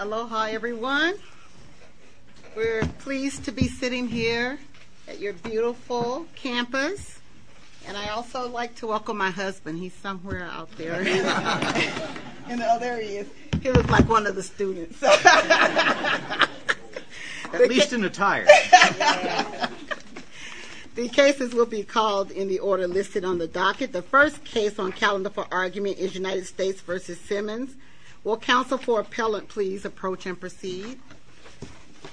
Aloha everyone. We're pleased to be sitting here at your beautiful campus, and I also like to welcome my husband. He's somewhere out there. You know, there he is. He looks like one of the students. At least in attire. The cases will be called in the order listed on the docket. The first case on calendar for argument is United States v. Simmons. Will counsel for appellant please approach and proceed?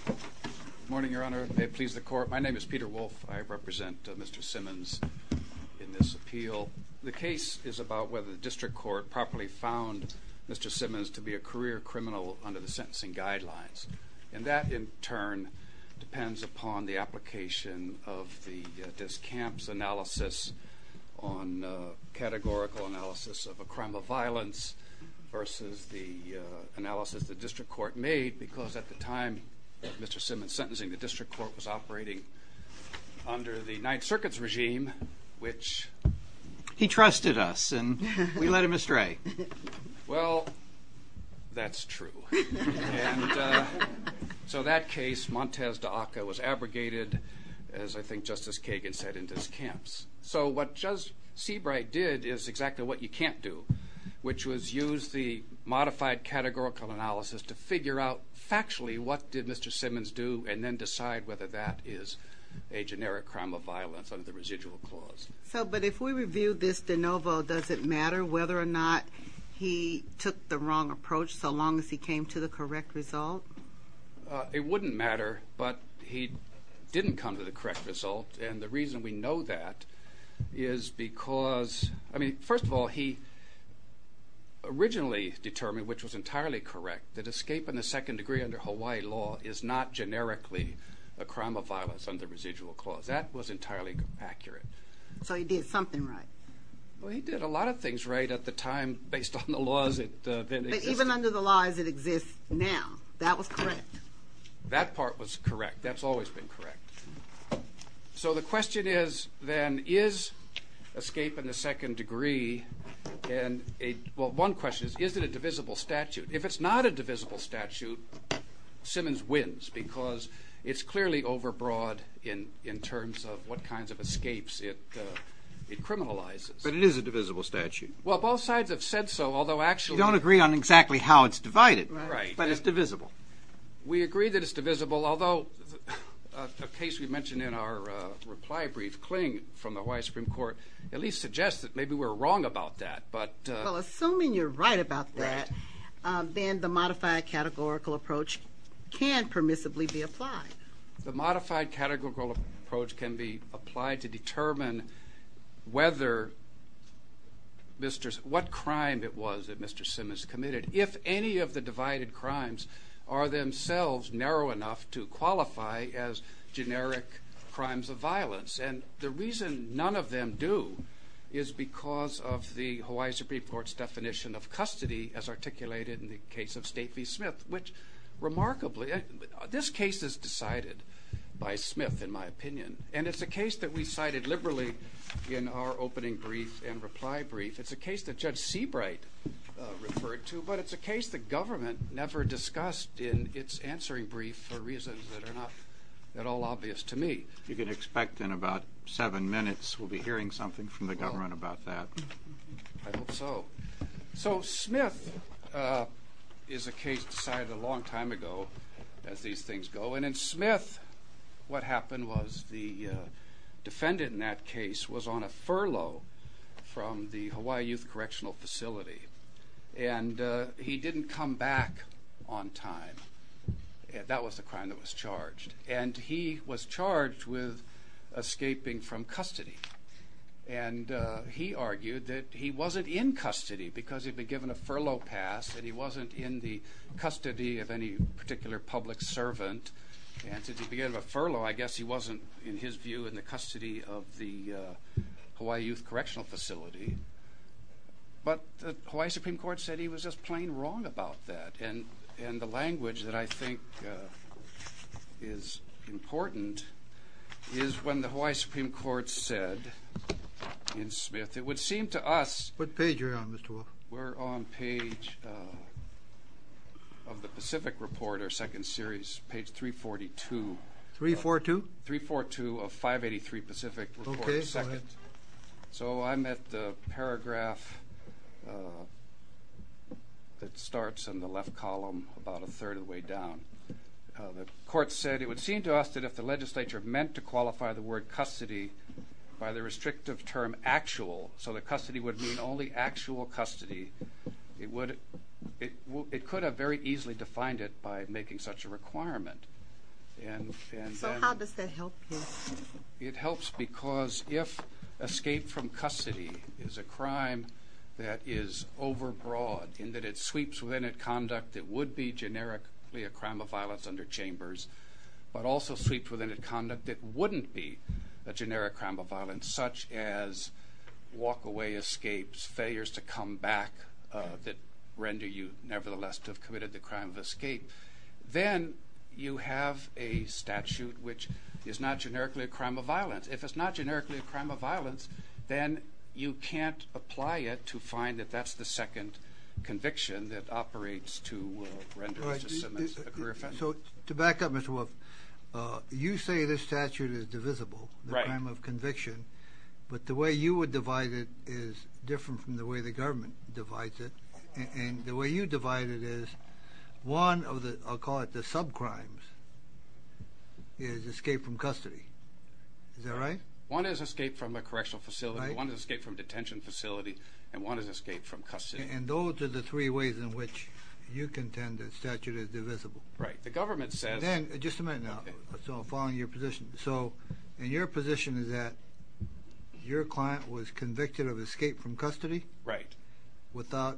Good morning, your honor. May it please the court. My name is Peter Wolfe. I represent Mr. Simmons in this appeal. The case is about whether the district court properly found Mr. Simmons to be a career criminal under the sentencing guidelines. And that in turn depends upon the application of the discamps analysis on categorical analysis of a crime of violence versus the analysis the district court made because at the time Mr. Simmons sentencing the district court was operating under the ninth circuit's regime, which He trusted us and we led him astray. Well, that's true. So that case Montez de Aca was abrogated as I think Justice Kagan said in discamps. So what Seabright did is exactly what you can't do, which was use the modified categorical analysis to figure out factually what did Mr. Simmons do and then decide whether that is a generic crime of violence under the residual clause. So but if we reviewed this de novo, does it matter whether or not he took the wrong approach so long as he came to the correct result? It wouldn't matter, but he didn't come to the correct result. And the reason we know that is because I mean, first of all, he So he did something right. Well, he did a lot of things right at the time based on the laws. Even under the laws that exist now, that was correct. That part was correct. That's always been correct. So the question is, then, is escape in the second degree and one question is, is it a divisible statute? If it's not a divisible statute, Simmons wins because it's clearly overbroad in terms of what kinds of escapes it criminalizes. But it is a divisible statute. Well, both sides have said so, although actually You don't agree on exactly how it's divided. Right. But it's divisible. We agree that it's divisible, although a case we mentioned in our reply brief, Kling, from the White Supreme Court, at least suggests that maybe we're wrong about that, but Well, assuming you're right about that, then the modified categorical approach can permissibly be applied. The modified categorical approach can be applied to determine what crime it was that Mr. Simmons committed, if any of the divided crimes are themselves narrow enough to qualify as generic crimes of violence. And the reason none of them do is because of the Hawaii Supreme Court's definition of custody, as articulated in the case of State v. Smith, which remarkably This case is decided by Smith, in my opinion, and it's a case that we cited liberally in our opening brief and reply brief. It's a case that Judge Seabright referred to, but it's a case the government never discussed in its answering brief for reasons that are not at all obvious to me. You can expect in about seven minutes we'll be hearing something from the government about that. I hope so. So Smith is a case decided a long time ago, as these things go, and in Smith, what happened was the defendant in that case was on a furlough from the Hawaii Youth Correctional Facility, and he didn't come back on time. That was the crime that was charged, and he was charged with escaping from custody. And he argued that he wasn't in custody because he'd been given a furlough pass and he wasn't in the custody of any particular public servant. And since he'd been given a furlough, I guess he wasn't, in his view, in the custody of the Hawaii Youth Correctional Facility. But the Hawaii Supreme Court said he was just plain wrong about that, and the language that I think is important is when the Hawaii Supreme Court said in Smith, it would seem to us... What page are you on, Mr. Walker? We're on page of the Pacific Report, our second series, page 342. 342? 342 of 583 Pacific Report, second. Okay, go ahead. So I'm at the paragraph that starts in the left column about a third of the way down. The court said it would seem to us that if the legislature meant to qualify the word custody by the restrictive term actual, so that custody would mean only actual custody, it could have very easily defined it by making such a requirement. So how does that help him? It helps because if escape from custody is a crime that is overbroad in that it sweeps within its conduct, it would be generically a crime of violence under chambers. But also sweeps within its conduct, it wouldn't be a generic crime of violence, such as walkaway escapes, failures to come back that render you nevertheless to have committed the crime of escape. Then you have a statute which is not generically a crime of violence. If it's not generically a crime of violence, then you can't apply it to find that that's the second conviction that operates to render Mr. Simmons a career offender. So to back up, Mr. Wolf, you say this statute is divisible, the crime of conviction. But the way you would divide it is different from the way the government divides it. And the way you divide it is one of the, I'll call it the sub-crimes, is escape from custody. Is that right? One is escape from a correctional facility, one is escape from a detention facility, and one is escape from custody. And those are the three ways in which you contend that statute is divisible. Right. The government says... Then, just a minute now, following your position. So, and your position is that your client was convicted of escape from custody? Right. Without,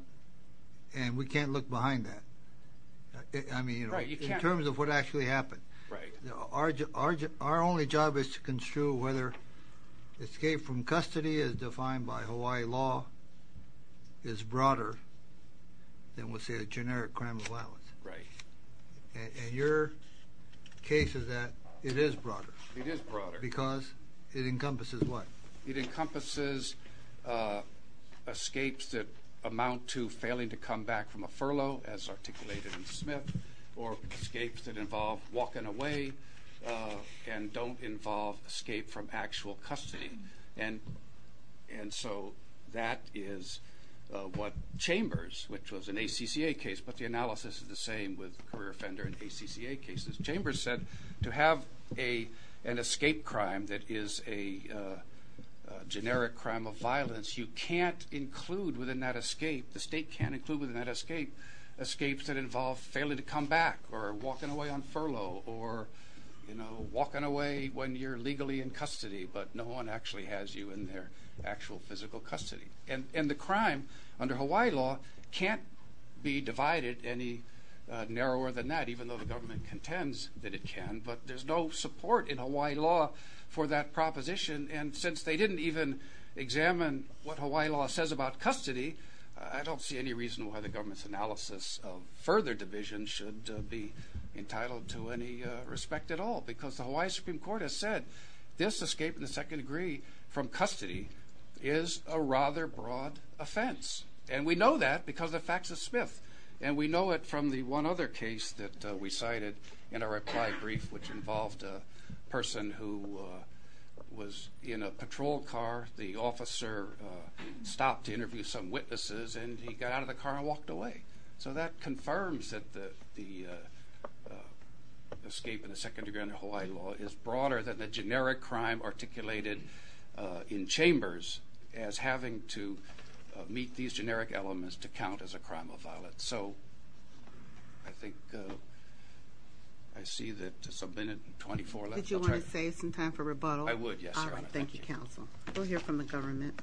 and we can't look behind that. I mean, in terms of what actually happened. Right. Our only job is to construe whether escape from custody as defined by Hawaii law is broader than, let's say, a generic crime of violence. Right. And your case is that it is broader. It is broader. Because it encompasses what? It encompasses escapes that amount to failing to come back from a furlough, as articulated in Smith, or escapes that involve walking away and don't involve escape from actual custody. Right. And so that is what Chambers, which was an ACCA case, but the analysis is the same with career offender and ACCA cases. Chambers said to have an escape crime that is a generic crime of violence, you can't include within that escape, the state can't include within that escape, escapes that involve failing to come back or walking away on furlough or walking away when you're legally in custody, but no one actually has you in their actual physical custody. And the crime under Hawaii law can't be divided any narrower than that, even though the government contends that it can, but there's no support in Hawaii law for that proposition. And since they didn't even examine what Hawaii law says about custody, I don't see any reason why the government's analysis of further division should be entitled to any respect at all, because the Hawaii Supreme Court has said this escape in the second degree from custody is a rather broad offense. And we know that because the facts of Smith. And we know it from the one other case that we cited in our reply brief, which involved a person who was in a patrol car. The officer stopped to interview some witnesses, and he got out of the car and walked away. So that confirms that the escape in the second degree under Hawaii law is broader than the generic crime articulated in chambers as having to meet these generic elements to count as a crime of violence. So I think I see that there's a minute and 24 left. Did you want to save some time for rebuttal? I would, yes, Your Honor. Thank you, Counsel. We'll hear from the government.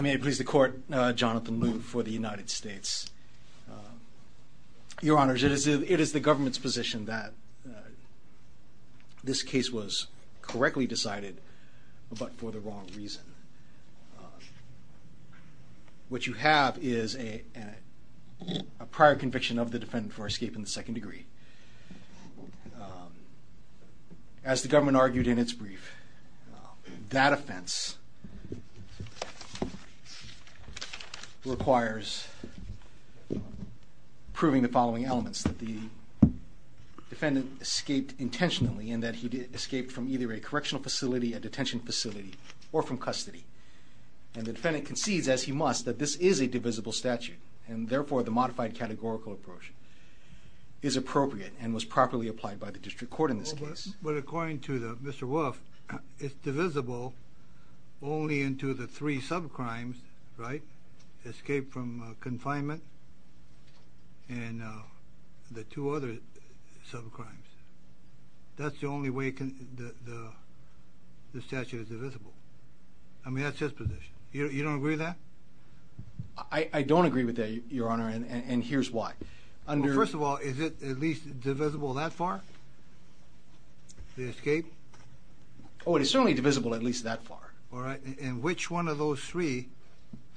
May it please the Court, Jonathan Lew for the United States. Your Honors, it is the government's position that this case was correctly decided but for the wrong reason. What you have is a prior conviction of the defendant for escape in the second degree. As the government argued in its brief, that offense requires proving the following elements, that the defendant escaped intentionally and that he escaped from either a correctional facility, a detention facility, or from custody. And the defendant concedes, as he must, that this is a divisible statute, and therefore the modified categorical approach is appropriate and was properly applied by the district court in this case. But according to Mr. Wolf, it's divisible only into the three sub-crimes, right? That's the only way the statute is divisible. I mean, that's his position. You don't agree with that? I don't agree with that, Your Honor, and here's why. First of all, is it at least divisible that far, the escape? Oh, it is certainly divisible at least that far. All right. And which one of those three,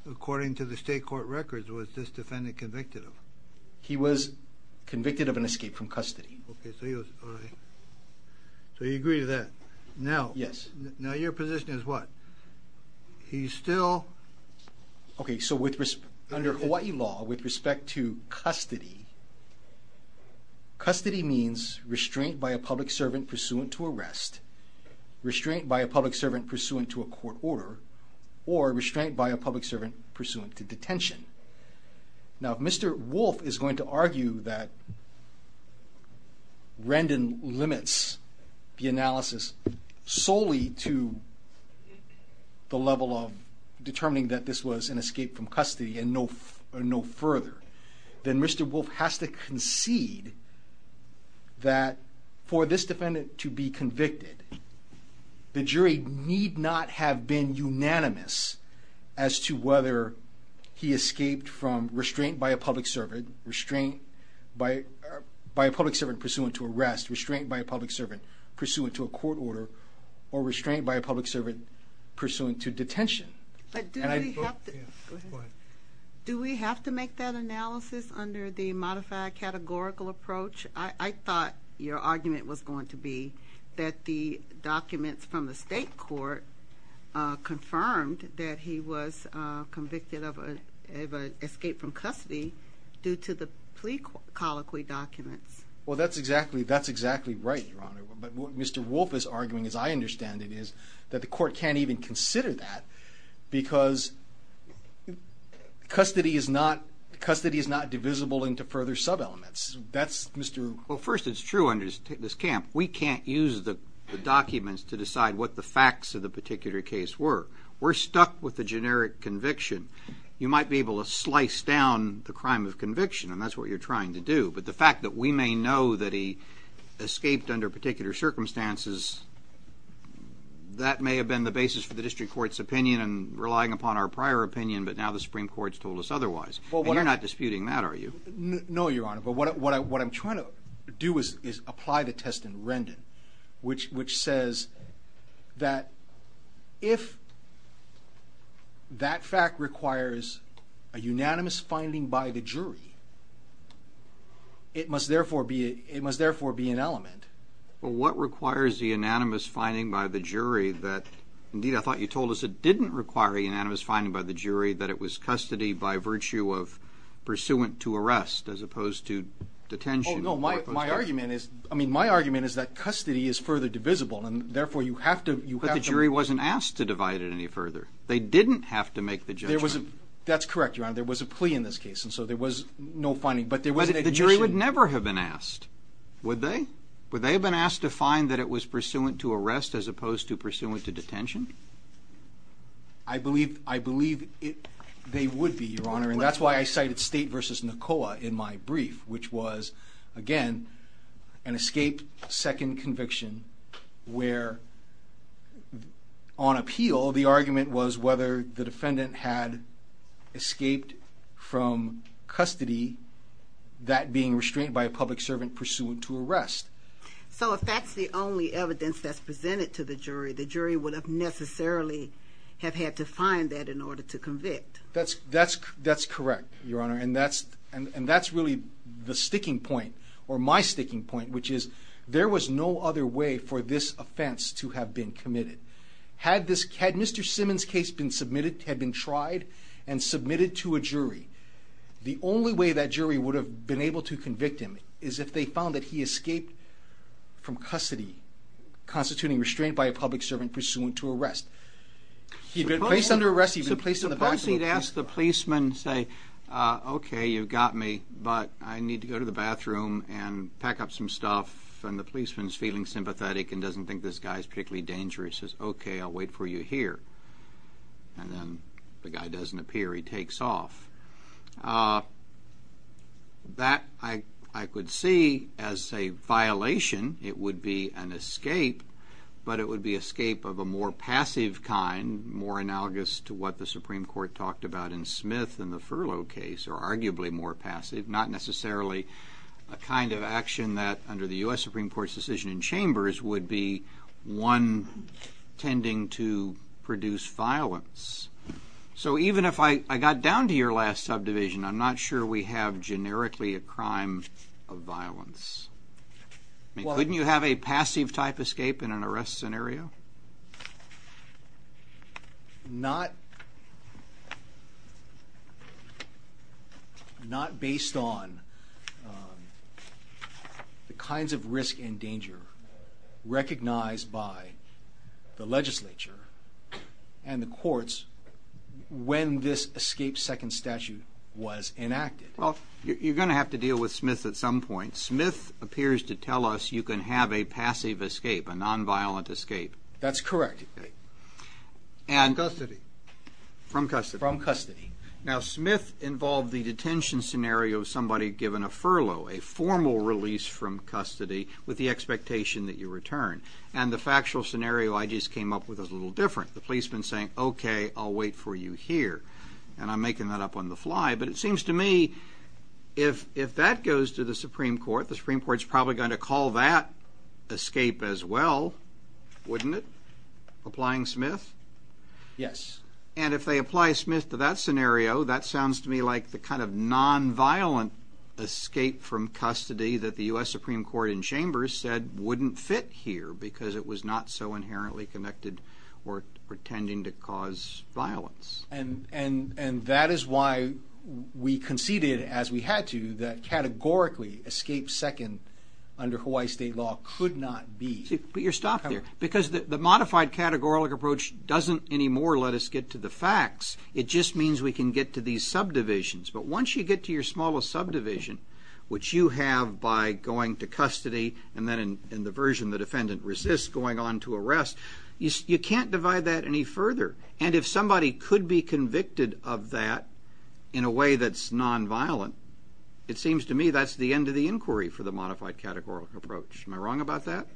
according to the state court records, was this defendant convicted of? He was convicted of an escape from custody. Okay, so he was, all right. So you agree with that? Yes. Now your position is what? He's still? Okay, so under Hawaii law, with respect to custody, custody means restraint by a public servant pursuant to arrest, restraint by a public servant pursuant to a court order, or restraint by a public servant pursuant to detention. Now if Mr. Wolf is going to argue that Rendon limits the analysis solely to the level of determining that this was an escape from custody and no further, then Mr. Wolf has to concede that for this defendant to be convicted, the jury need not have been unanimous as to whether he escaped from restraint by a public servant, restraint by a public servant pursuant to arrest, restraint by a public servant pursuant to a court order, or restraint by a public servant pursuant to detention. Do we have to make that analysis under the modified categorical approach? I thought your argument was going to be that the documents from the state court confirmed that he was convicted of an escape from custody due to the plea colloquy documents. Well, that's exactly right, Your Honor. But what Mr. Wolf is arguing, as I understand it, is that the court can't even consider that because custody is not divisible into further sub-elements. Well, first it's true under this camp, we can't use the documents to decide what the facts of the particular case were. We're stuck with the generic conviction. You might be able to slice down the crime of conviction, and that's what you're trying to do. But the fact that we may know that he escaped under particular circumstances, that may have been the basis for the district court's opinion and relying upon our prior opinion, but now the Supreme Court's told us otherwise. And you're not disputing that, are you? No, Your Honor. But what I'm trying to do is apply the test in Rendon, which says that if that fact requires a unanimous finding by the jury, it must therefore be an element. Well, what requires the unanimous finding by the jury that, indeed I thought you told us it didn't require a unanimous finding by the jury, that it was custody by virtue of pursuant to arrest as opposed to detention? Oh, no, my argument is that custody is further divisible, and therefore you have to... But the jury wasn't asked to divide it any further. They didn't have to make the judgment. That's correct, Your Honor. There was a plea in this case, and so there was no finding, but there was an admission... But the jury would never have been asked, would they? Would they have been asked to find that it was pursuant to arrest as opposed to pursuant to detention? I believe they would be, Your Honor, and that's why I cited State v. Nicola in my brief, which was, again, an escaped second conviction, where on appeal the argument was whether the defendant had escaped from custody, that being restrained by a public servant pursuant to arrest. So if that's the only evidence that's presented to the jury, the jury would have necessarily have had to find that in order to convict. That's correct, Your Honor, and that's really the sticking point, or my sticking point, which is there was no other way for this offense to have been committed. Had Mr. Simmons' case been submitted, had been tried, and submitted to a jury, the only way that jury would have been able to convict him is if they found that he escaped from custody, constituting restraint by a public servant pursuant to arrest. If he'd been placed under arrest, he'd been placed in the back of a police car. Suppose he'd asked the policeman, say, okay, you've got me, but I need to go to the bathroom and pack up some stuff, and the policeman's feeling sympathetic and doesn't think this guy's particularly dangerous. He says, okay, I'll wait for you here, and then the guy doesn't appear. He takes off. That, I could see as a violation. It would be an escape, but it would be an escape of a more passive kind, more analogous to what the Supreme Court talked about in Smith and the furlough case, or arguably more passive, not necessarily a kind of action that, under the U.S. Supreme Court's decision in chambers, would be one tending to produce violence. So even if I got down to your last subdivision, I'm not sure we have generically a crime of violence. Couldn't you have a passive-type escape in an arrest scenario? Not based on the kinds of risk and danger recognized by the legislature and the courts when this escape second statute was enacted. Well, you're going to have to deal with Smith at some point. But Smith appears to tell us you can have a passive escape, a nonviolent escape. That's correct. From custody. From custody. From custody. Now, Smith involved the detention scenario of somebody given a furlough, a formal release from custody with the expectation that you return. And the factual scenario I just came up with is a little different. The policeman's saying, okay, I'll wait for you here, and I'm making that up on the fly. But it seems to me if that goes to the Supreme Court, the Supreme Court's probably going to call that escape as well, wouldn't it? Applying Smith? Yes. And if they apply Smith to that scenario, that sounds to me like the kind of nonviolent escape from custody that the U.S. Supreme Court in chambers said wouldn't fit here because it was not so inherently connected or pretending to cause violence. And that is why we conceded, as we had to, that categorically escape second under Hawaii state law could not be. But you're stopped there. Because the modified categorical approach doesn't anymore let us get to the facts. It just means we can get to these subdivisions. But once you get to your smallest subdivision, which you have by going to custody, and then in the version the defendant resists going on to arrest, you can't divide that any further. And if somebody could be convicted of that in a way that's nonviolent, it seems to me that's the end of the inquiry for the modified categorical approach. Am I wrong about that?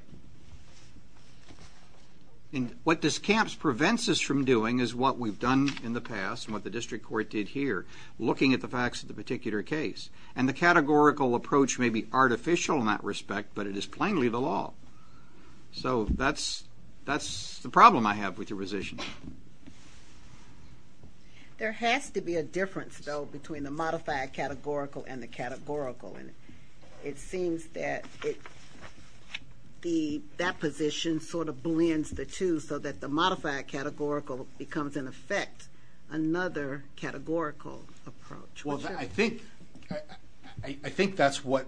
And what this camps prevents us from doing is what we've done in the past and what the district court did here, looking at the facts of the particular case. And the categorical approach may be artificial in that respect, but it is plainly the law. So that's the problem I have with your position. There has to be a difference, though, between the modified categorical and the categorical. And it seems that that position sort of blends the two so that the modified categorical becomes, in effect, another categorical approach. Well, I think that's what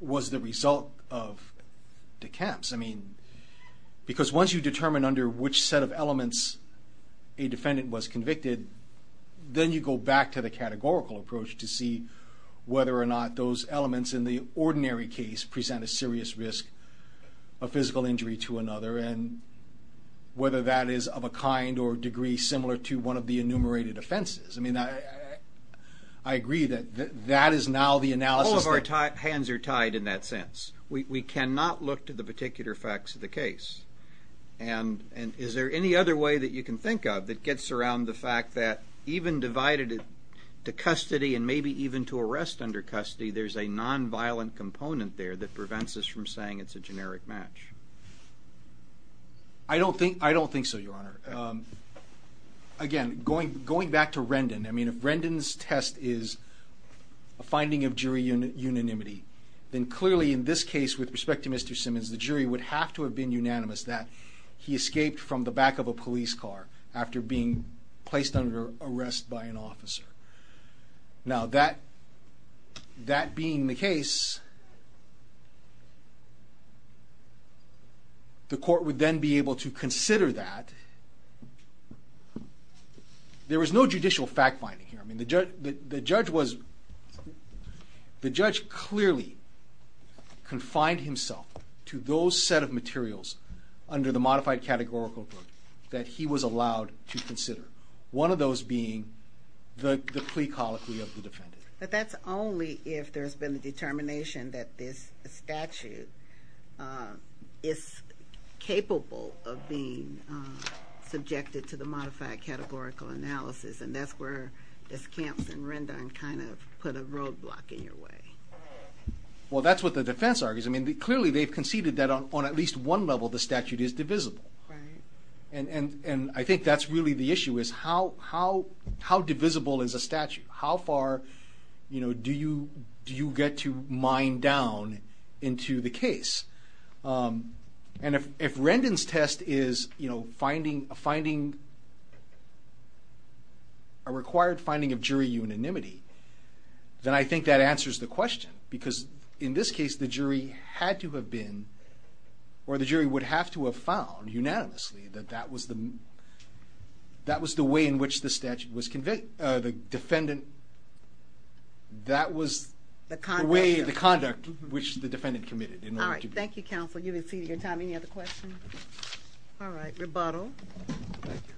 was the result of the camps. I mean, because once you determine under which set of elements a defendant was convicted, then you go back to the categorical approach to see whether or not those elements in the ordinary case present a serious risk of physical injury to another, and whether that is of a kind or degree similar to one of the enumerated offenses. I mean, I agree that that is now the analysis. All of our hands are tied in that sense. We cannot look to the particular facts of the case. And is there any other way that you can think of that gets around the fact that even divided to custody and maybe even to arrest under custody, there's a nonviolent component there that prevents us from saying it's a generic match? I don't think so, Your Honor. Again, going back to Rendon, I mean, if Rendon's test is a finding of jury unanimity, then clearly in this case, with respect to Mr. Simmons, the jury would have to have been unanimous that he escaped from the back of a police car after being placed under arrest by an officer. Now, that being the case, the court would then be able to consider that. There was no judicial fact-finding here. I mean, the judge clearly confined himself to those set of materials under the modified categorical group that he was allowed to consider. One of those being the plea colloquy of the defendant. But that's only if there's been a determination that this statute is capable of being subjected to the modified categorical analysis, and that's where this camps in Rendon kind of put a roadblock in your way. Well, that's what the defense argues. I mean, clearly they've conceded that on at least one level the statute is divisible. Right. And I think that's really the issue is how divisible is a statute? How far do you get to mine down into the case? And if Rendon's test is a required finding of jury unanimity, then I think that answers the question. Because in this case, the jury had to have been, or the jury would have to have found unanimously, that that was the way in which the statute was convicted. The defendant, that was the way, the conduct, which the defendant committed. All right. Thank you, counsel. You've exceeded your time. Any other questions? All right. Rebuttal. Thank you.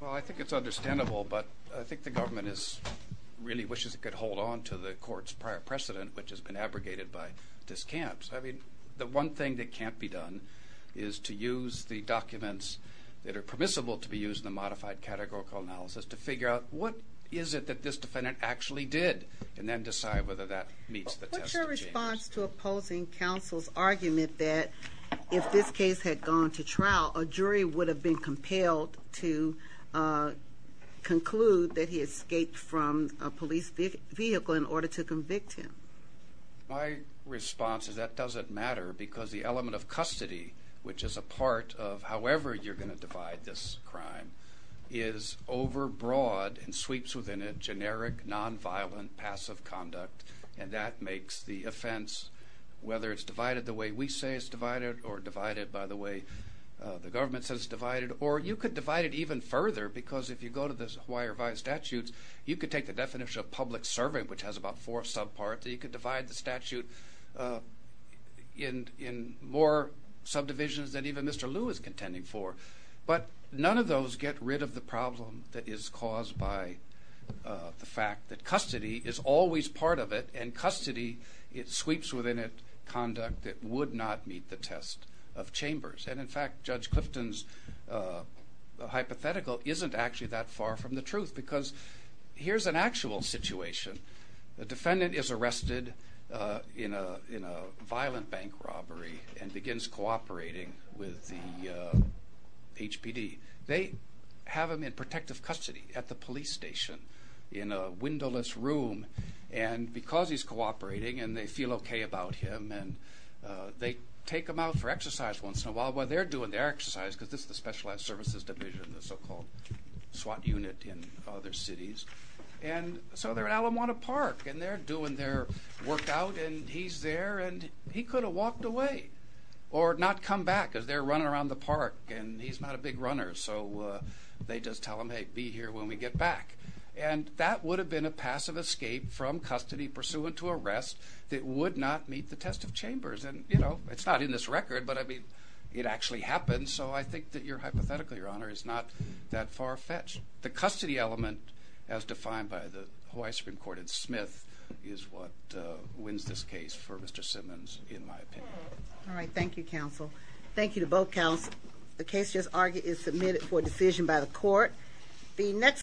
Well, I think it's understandable, but I think the government really wishes it could hold on to the court's prior precedent, which has been abrogated by this camps. I mean, the one thing that can't be done is to use the documents that are permissible to be used in the modified categorical analysis to figure out what is it that this defendant actually did, and then decide whether that meets the test of James. In response to opposing counsel's argument that if this case had gone to trial, a jury would have been compelled to conclude that he escaped from a police vehicle in order to convict him. My response is that doesn't matter because the element of custody, which is a part of however you're going to divide this crime, is overbroad and sweeps within it generic, nonviolent, passive conduct, and that makes the offense, whether it's divided the way we say it's divided or divided by the way the government says it's divided, or you could divide it even further because if you go to the Hawaii Revised Statutes, you could take the definition of public serving, which has about four subparts, and you could divide the statute in more subdivisions than even Mr. Liu is contending for. But none of those get rid of the problem that is caused by the fact that custody is always part of it, and custody, it sweeps within it conduct that would not meet the test of chambers. And in fact, Judge Clifton's hypothetical isn't actually that far from the truth because here's an actual situation. The defendant is arrested in a violent bank robbery and begins cooperating with the HPD. They have him in protective custody at the police station in a windowless room, and because he's cooperating and they feel okay about him, and they take him out for exercise once in a while. Well, they're doing their exercise because this is the Specialized Services Division, the so-called SWAT unit in other cities. And so they're at Alamanta Park, and they're doing their workout, and he's there, and he could have walked away or not come back because they're running around the park, and he's not a big runner, so they just tell him, hey, be here when we get back. And that would have been a passive escape from custody pursuant to arrest that would not meet the test of chambers. And, you know, it's not in this record, but, I mean, it actually happened, so I think that your hypothetical, Your Honor, is not that far-fetched. The custody element, as defined by the Hawaii Supreme Court in Smith, is what wins this case for Mr. Simmons, in my opinion. All right. Thank you, counsel. Thank you to both counsels. The case just argued is submitted for decision by the court.